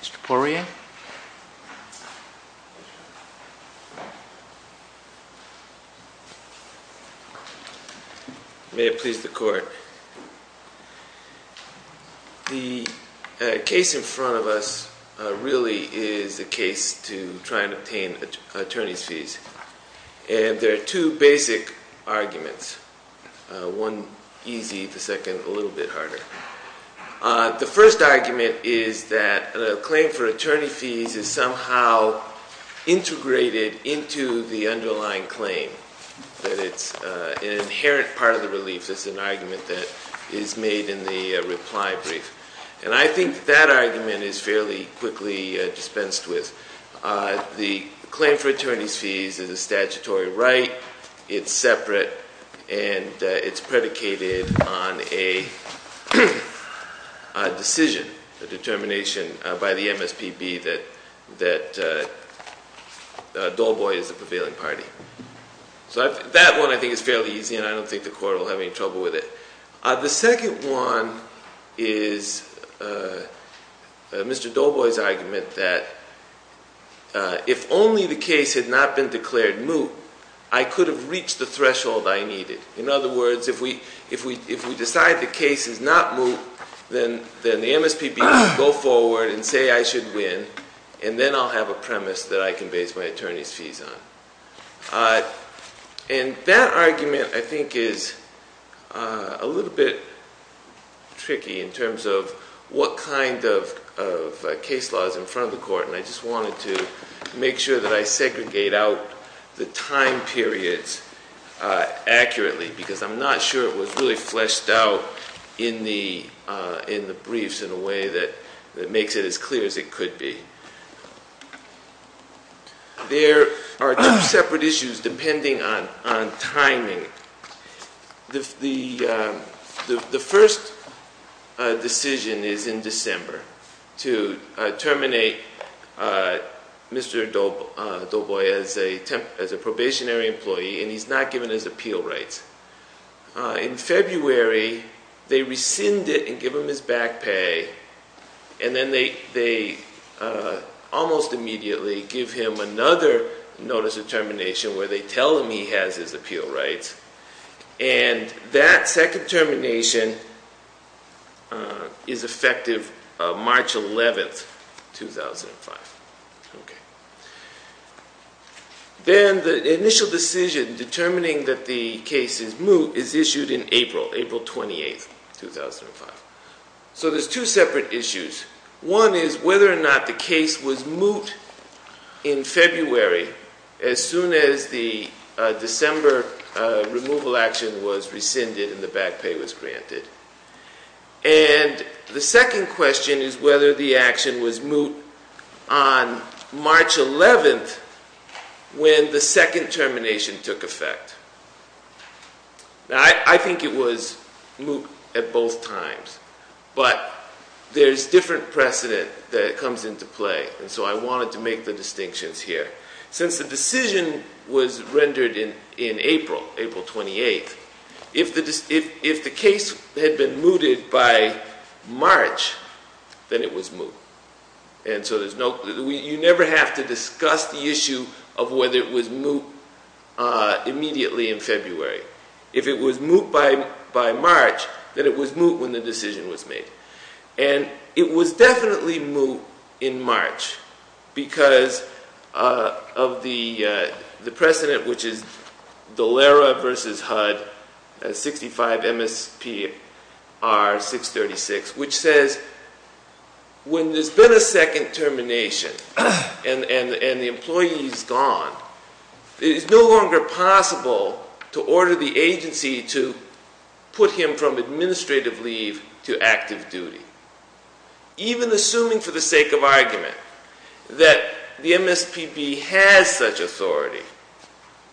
Mr. Poirier May it please the Court The case in front of us really is a case to try and obtain attorney's fees. And there are two basic arguments. One easy, the second a little bit harder. The first argument is that a claim for attorney's fees is somehow integrated into the underlying claim. That it's an inherent part of the relief. It's an argument that is made in the reply brief. And I think that argument is fairly quickly dispensed with. The claim for attorney's fees is a statutory right. It's separate. And it's predicated on a decision, a determination by the MSPB that Dolboy is the prevailing party. So that one I think is fairly easy and I don't think the Court will have any trouble with it. The second one is Mr. Dolboy's argument that if only the case had not been declared moot, I could have reached the threshold I needed. In other words, if we decide the case is not moot, then the MSPB will go forward and say I should win. And then I'll have a premise that I can base my attorney's fees on. And that argument I think is a little bit tricky in terms of what kind of case law is in front of the Court. And I just wanted to make sure that I segregate out the time periods accurately because I'm not sure it was really fleshed out in the briefs in a way that makes it as clear as it could be. There are two separate issues depending on timing. The first decision is in December to terminate Mr. Dolboy as a probationary employee and he's not given his appeal rights. In February they rescind it and give him his back pay and then they almost immediately give him another notice of termination where they tell him he has his appeal rights. And that second termination is effective March 11th, 2005. Then the initial decision determining that the case is moot is issued in April, April 28th, 2005. So there's two separate issues. One is whether or not the case was moot in February as soon as the December removal action was rescinded and the back pay was rescinded. And the date of the action was moot on March 11th when the second termination took effect. Now I think it was moot at both times but there's different precedent that comes into play and so I wanted to make the distinctions here. Since the decision was moot. You never have to discuss the issue of whether it was moot immediately in February. If it was moot by March then it was moot when the decision was made. And it was definitely MSPB has such authority.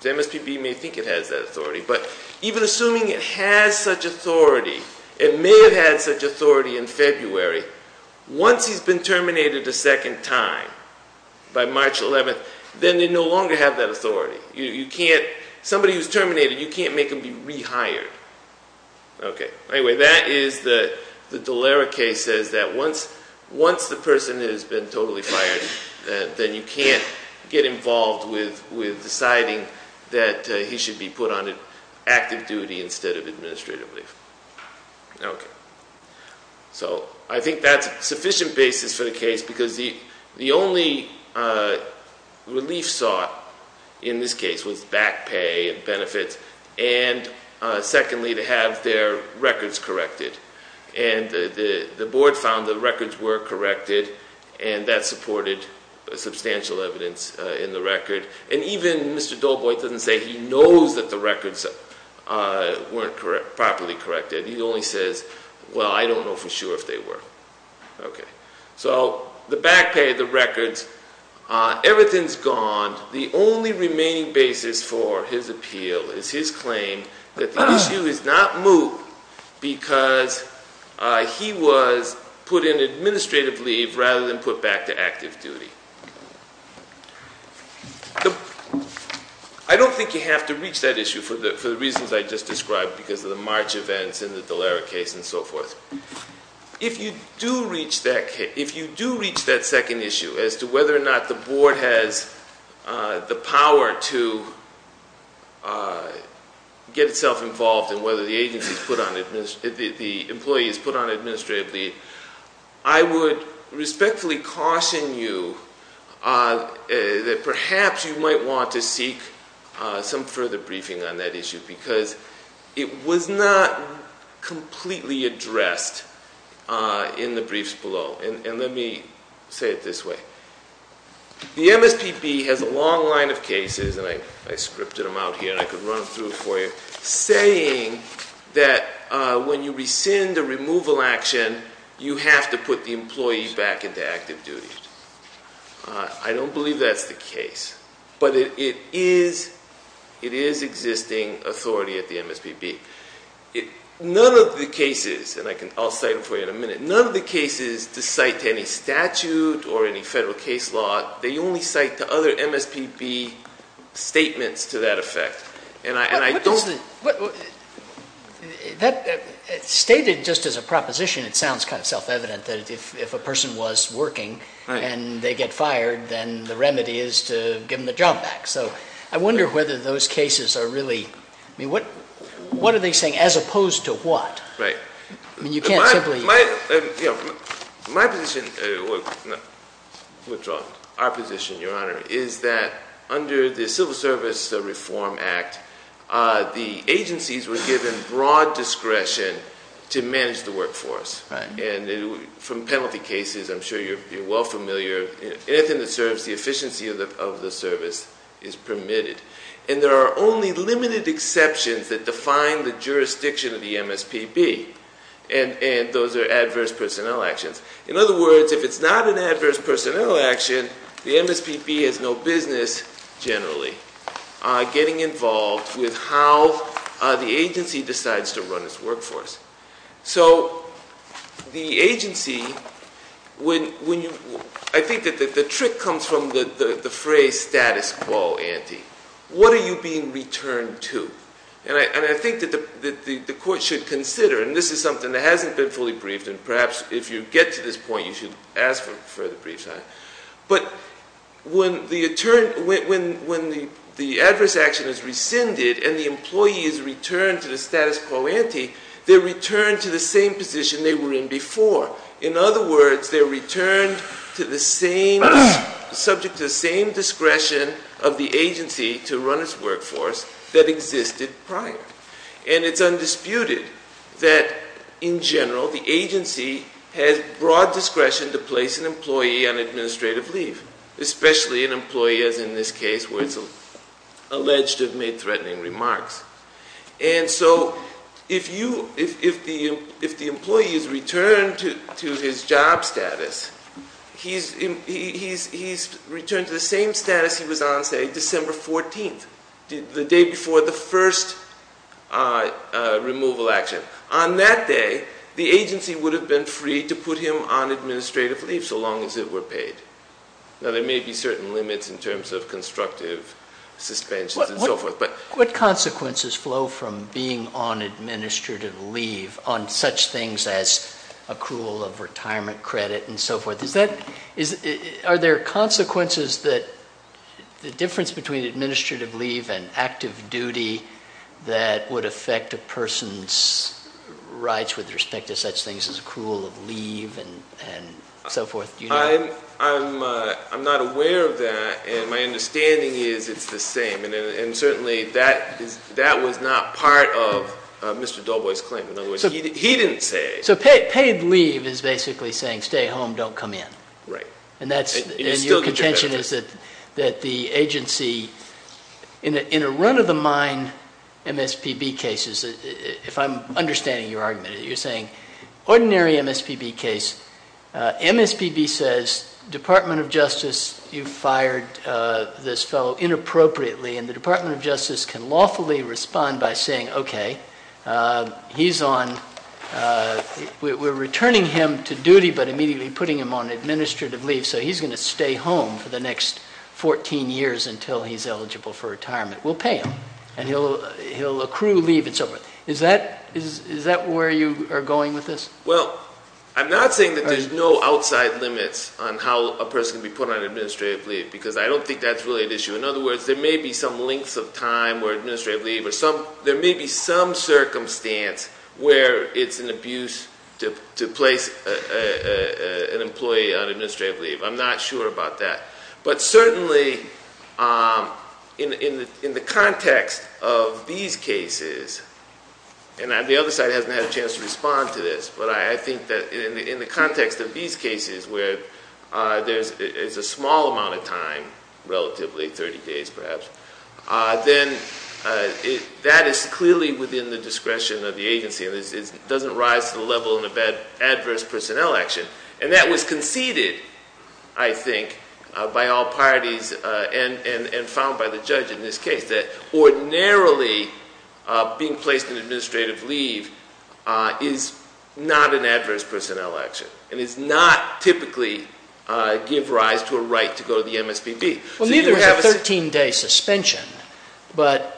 The MSPB may think it has that authority but even assuming it has such authority, it may have had such authority in February, once he's been terminated a second time by March 11th, then they no longer have that authority. You can't, somebody who's terminated, you can't make him be rehired. Okay. Anyway, that is the Deleric case says that once the person has been totally fired then you can't get involved with deciding that he should be put on active duty instead of administrative leave. Okay. So I think that's a sufficient basis for the case because the only relief sought in this case was back pay and benefits and secondly to have their records corrected. And the board found the records were corrected and that supported substantial evidence in the record. And even Mr. Dolboy doesn't say he knows that the records weren't properly corrected. He only says, well I don't know for sure if they were. Okay. So the back pay, the records, everything's gone. The only remaining basis for his appeal is his claim that the issue is not moot because he was put in administrative leave rather than put back to active duty. I don't think you have to reach that issue for the reasons I just described because of the March events and the Deleric case and so forth. If you do reach that case, if you do reach that second issue as to whether or not the board has the power to get itself involved and whether the employee is put on administrative leave, I would respectfully caution you that perhaps you might want to seek some further briefing on that issue because it was not completely addressed in the briefs below. And let me say it this way. The MSPB has a long line of cases and I scripted them out here and I could run them through for you, saying that when you rescind a removal action, you have to put the employee back into active duty. I don't believe that's the case. But it is existing authority at the MSPB. None of the cases, and I'll cite them for you in a minute, none of the cases to cite to any statute or any federal case law, they only cite to other MSPB statements to that effect and I don't believe that's the case. That stated just as a proposition, it sounds kind of self-evident that if a person was working and they get fired, then the remedy is to give them the job back. So I wonder whether those cases are really, I mean, what are they saying as opposed to what? Right. I mean, you can't simply... My position, no, withdraw. Our position, Your Honor, is that under the Civil Service Reform Act, the agencies were given broad discretion to manage the workforce and from penalty cases, I'm sure you're well familiar, anything that serves the efficiency of the service is permitted. And there are only limited exceptions that define the jurisdiction of the MSPB and those are adverse personnel actions. In other words, if it's not an adverse personnel action, the agency is involved with how the agency decides to run its workforce. So the agency, when you... I think that the trick comes from the phrase status quo ante. What are you being returned to? And I think that the court should consider, and this is something that hasn't been fully briefed and perhaps if you get to this point, you should ask for the brief time. But when the adverse action is rescinded and the employee is returned to the status quo ante, they're returned to the same position they were in before. In other words, they're returned to the same, subject to the same discretion of the agency to run its workforce that existed prior. And it's undisputed that, in general, the agency has broad discretion to place an employee on administrative leave, especially an employee, as in this case, where it's alleged to have made threatening remarks. And so if the employee is returned to his job status, he's returned to the same status he was on, say, December 14th, the day before the first removal action. On that day, the agency would have been free to put him on administrative leave so long as it were paid. Now, there may be certain limits in terms of constructive suspensions and so forth, but... What consequences flow from being on administrative leave on such things as accrual of retirement credit and so forth? Are there consequences that the difference between administrative leave and active duty that would affect a person's rights with respect to such things as accrual of leave and so forth? I'm not aware of that, and my understanding is it's the same. And certainly, that was not part of Mr. Doboy's claim. In other words, he didn't say... So paid leave is basically saying, stay home, don't come in. Right. And that's... And it's still contributed to... And your contention is that the agency, in a run-of-the-mind MSPB case, if I'm understanding your argument, you're saying, ordinary MSPB case, MSPB says, Department of Justice, you fired this fellow inappropriately, and the Department of Justice can lawfully respond by saying, okay, he's on... We're returning him to duty, but immediately putting him on administrative leave, so he's going to stay home for the next 14 years until he's eligible for retirement. We'll pay him, and he'll accrue leave and so forth. Is that where you are going with this? Well, I'm not saying that there's no outside limits on how a person can be put on administrative leave, because I don't think that's really an issue. In other words, there may be some lengths of time where administrative leave or some... There may be some circumstance where it's an abuse to place an employee on administrative leave. I'm not sure about that. But certainly, in the context of these cases, and the other side hasn't had a chance to respond to this, but I think that in the context of these cases where there's a small amount of time, relatively, 30 days perhaps, then that is clearly within the discretion of the agency, and it doesn't rise to the level of adverse personnel action. And that was conceded, I think, by all parties and found by the judge in this case, that ordinarily being placed in administrative leave is not an adverse personnel action, and it's not typically give rise to a right to go to the MSPB. Well, neither have a 13-day suspension, but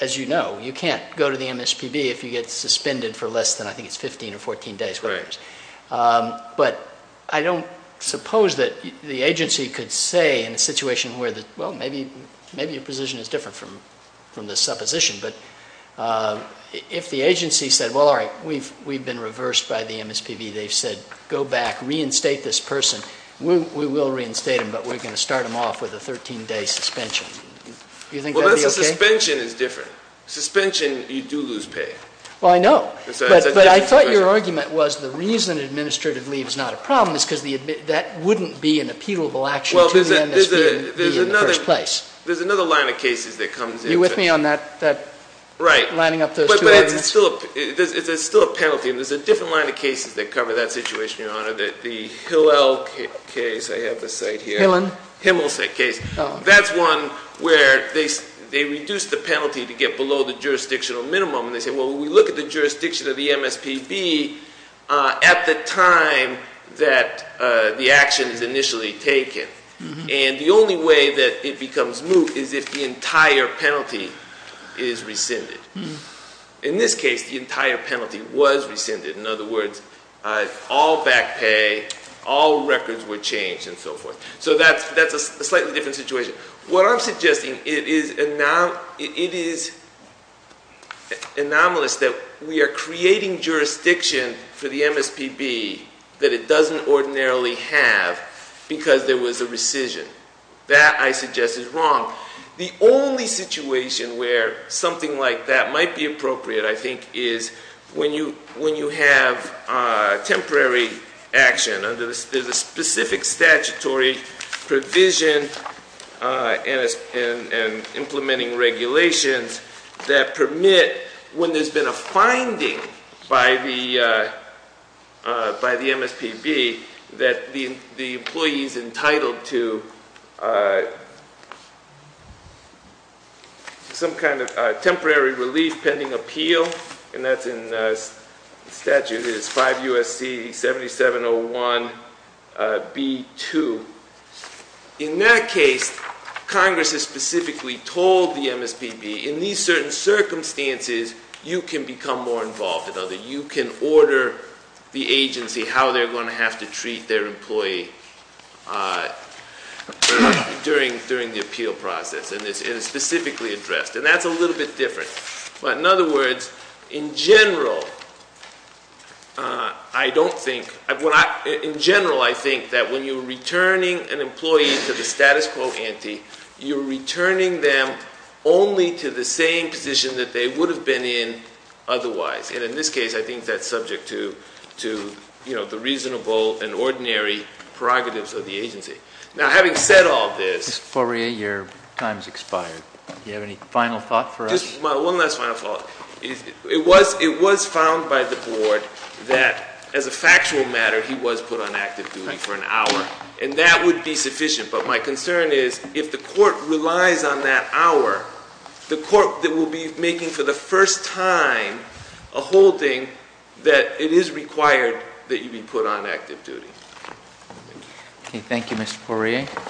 as you know, you can't go to the MSPB if you don't... I don't suppose that the agency could say in a situation where, well, maybe your position is different from the supposition, but if the agency said, well, all right, we've been reversed by the MSPB. They've said, go back, reinstate this person. We will reinstate him, but we're going to start him off with a 13-day suspension. Do you think that would be okay? Well, that's the suspension is different. Suspension, you do lose pay. Well, I know. It's a different situation. My argument was the reason administrative leave is not a problem is because that wouldn't be an appealable action to the MSPB in the first place. There's another line of cases that comes in. Are you with me on that, lining up those two arguments? Right, but it's still a penalty, and there's a different line of cases that cover that situation, Your Honor, that the Hillel case, I have the site here. Hillen? Himmelsack case. That's one where they reduced the penalty to get below the jurisdictional minimum, and they said, well, we look at the jurisdiction of the MSPB at the time that the action is initially taken, and the only way that it becomes moot is if the entire penalty is rescinded. In this case, the entire penalty was rescinded. In other words, all back pay, all records were changed, and so forth. So that's a slightly different situation. What I'm suggesting, it is anomalous that we are creating jurisdiction for the MSPB that it doesn't ordinarily have, because there was a rescission. That, I suggest, is wrong. The only situation where something like that might be appropriate, I think, is when you have temporary action. There's a specific statutory provision for the MSPB to have temporary action and implementing regulations that permit, when there's been a finding by the MSPB, that the employee is entitled to some kind of temporary relief pending appeal, and that's in statute is 5 U.S.C. 7701 B2. In that case, Congress has specifically told the MSPB, in these certain circumstances, you can become more involved. You can order the agency how they're going to have to treat their employee during the appeal process, and it's specifically addressed. And that's a little bit different. But in other words, in general, I don't think, in general, I think that when you're returning an employee to the status quo ante, you're returning them only to the same position that they would have been in otherwise. And in this case, I think that's subject to the reasonable and ordinary prerogatives of the agency. Now, having said all this Mr. Correa, your time's expired. Do you have any final thought for us? One last final thought. It was found by the board that, as a factual matter, he was put on active duty for an hour, and that would be sufficient. But my concern is, if the court relies on that hour, the court that will be making, for the first time, a holding, that it is required that you be put on active duty. Okay. Thank you, Mr. Correa.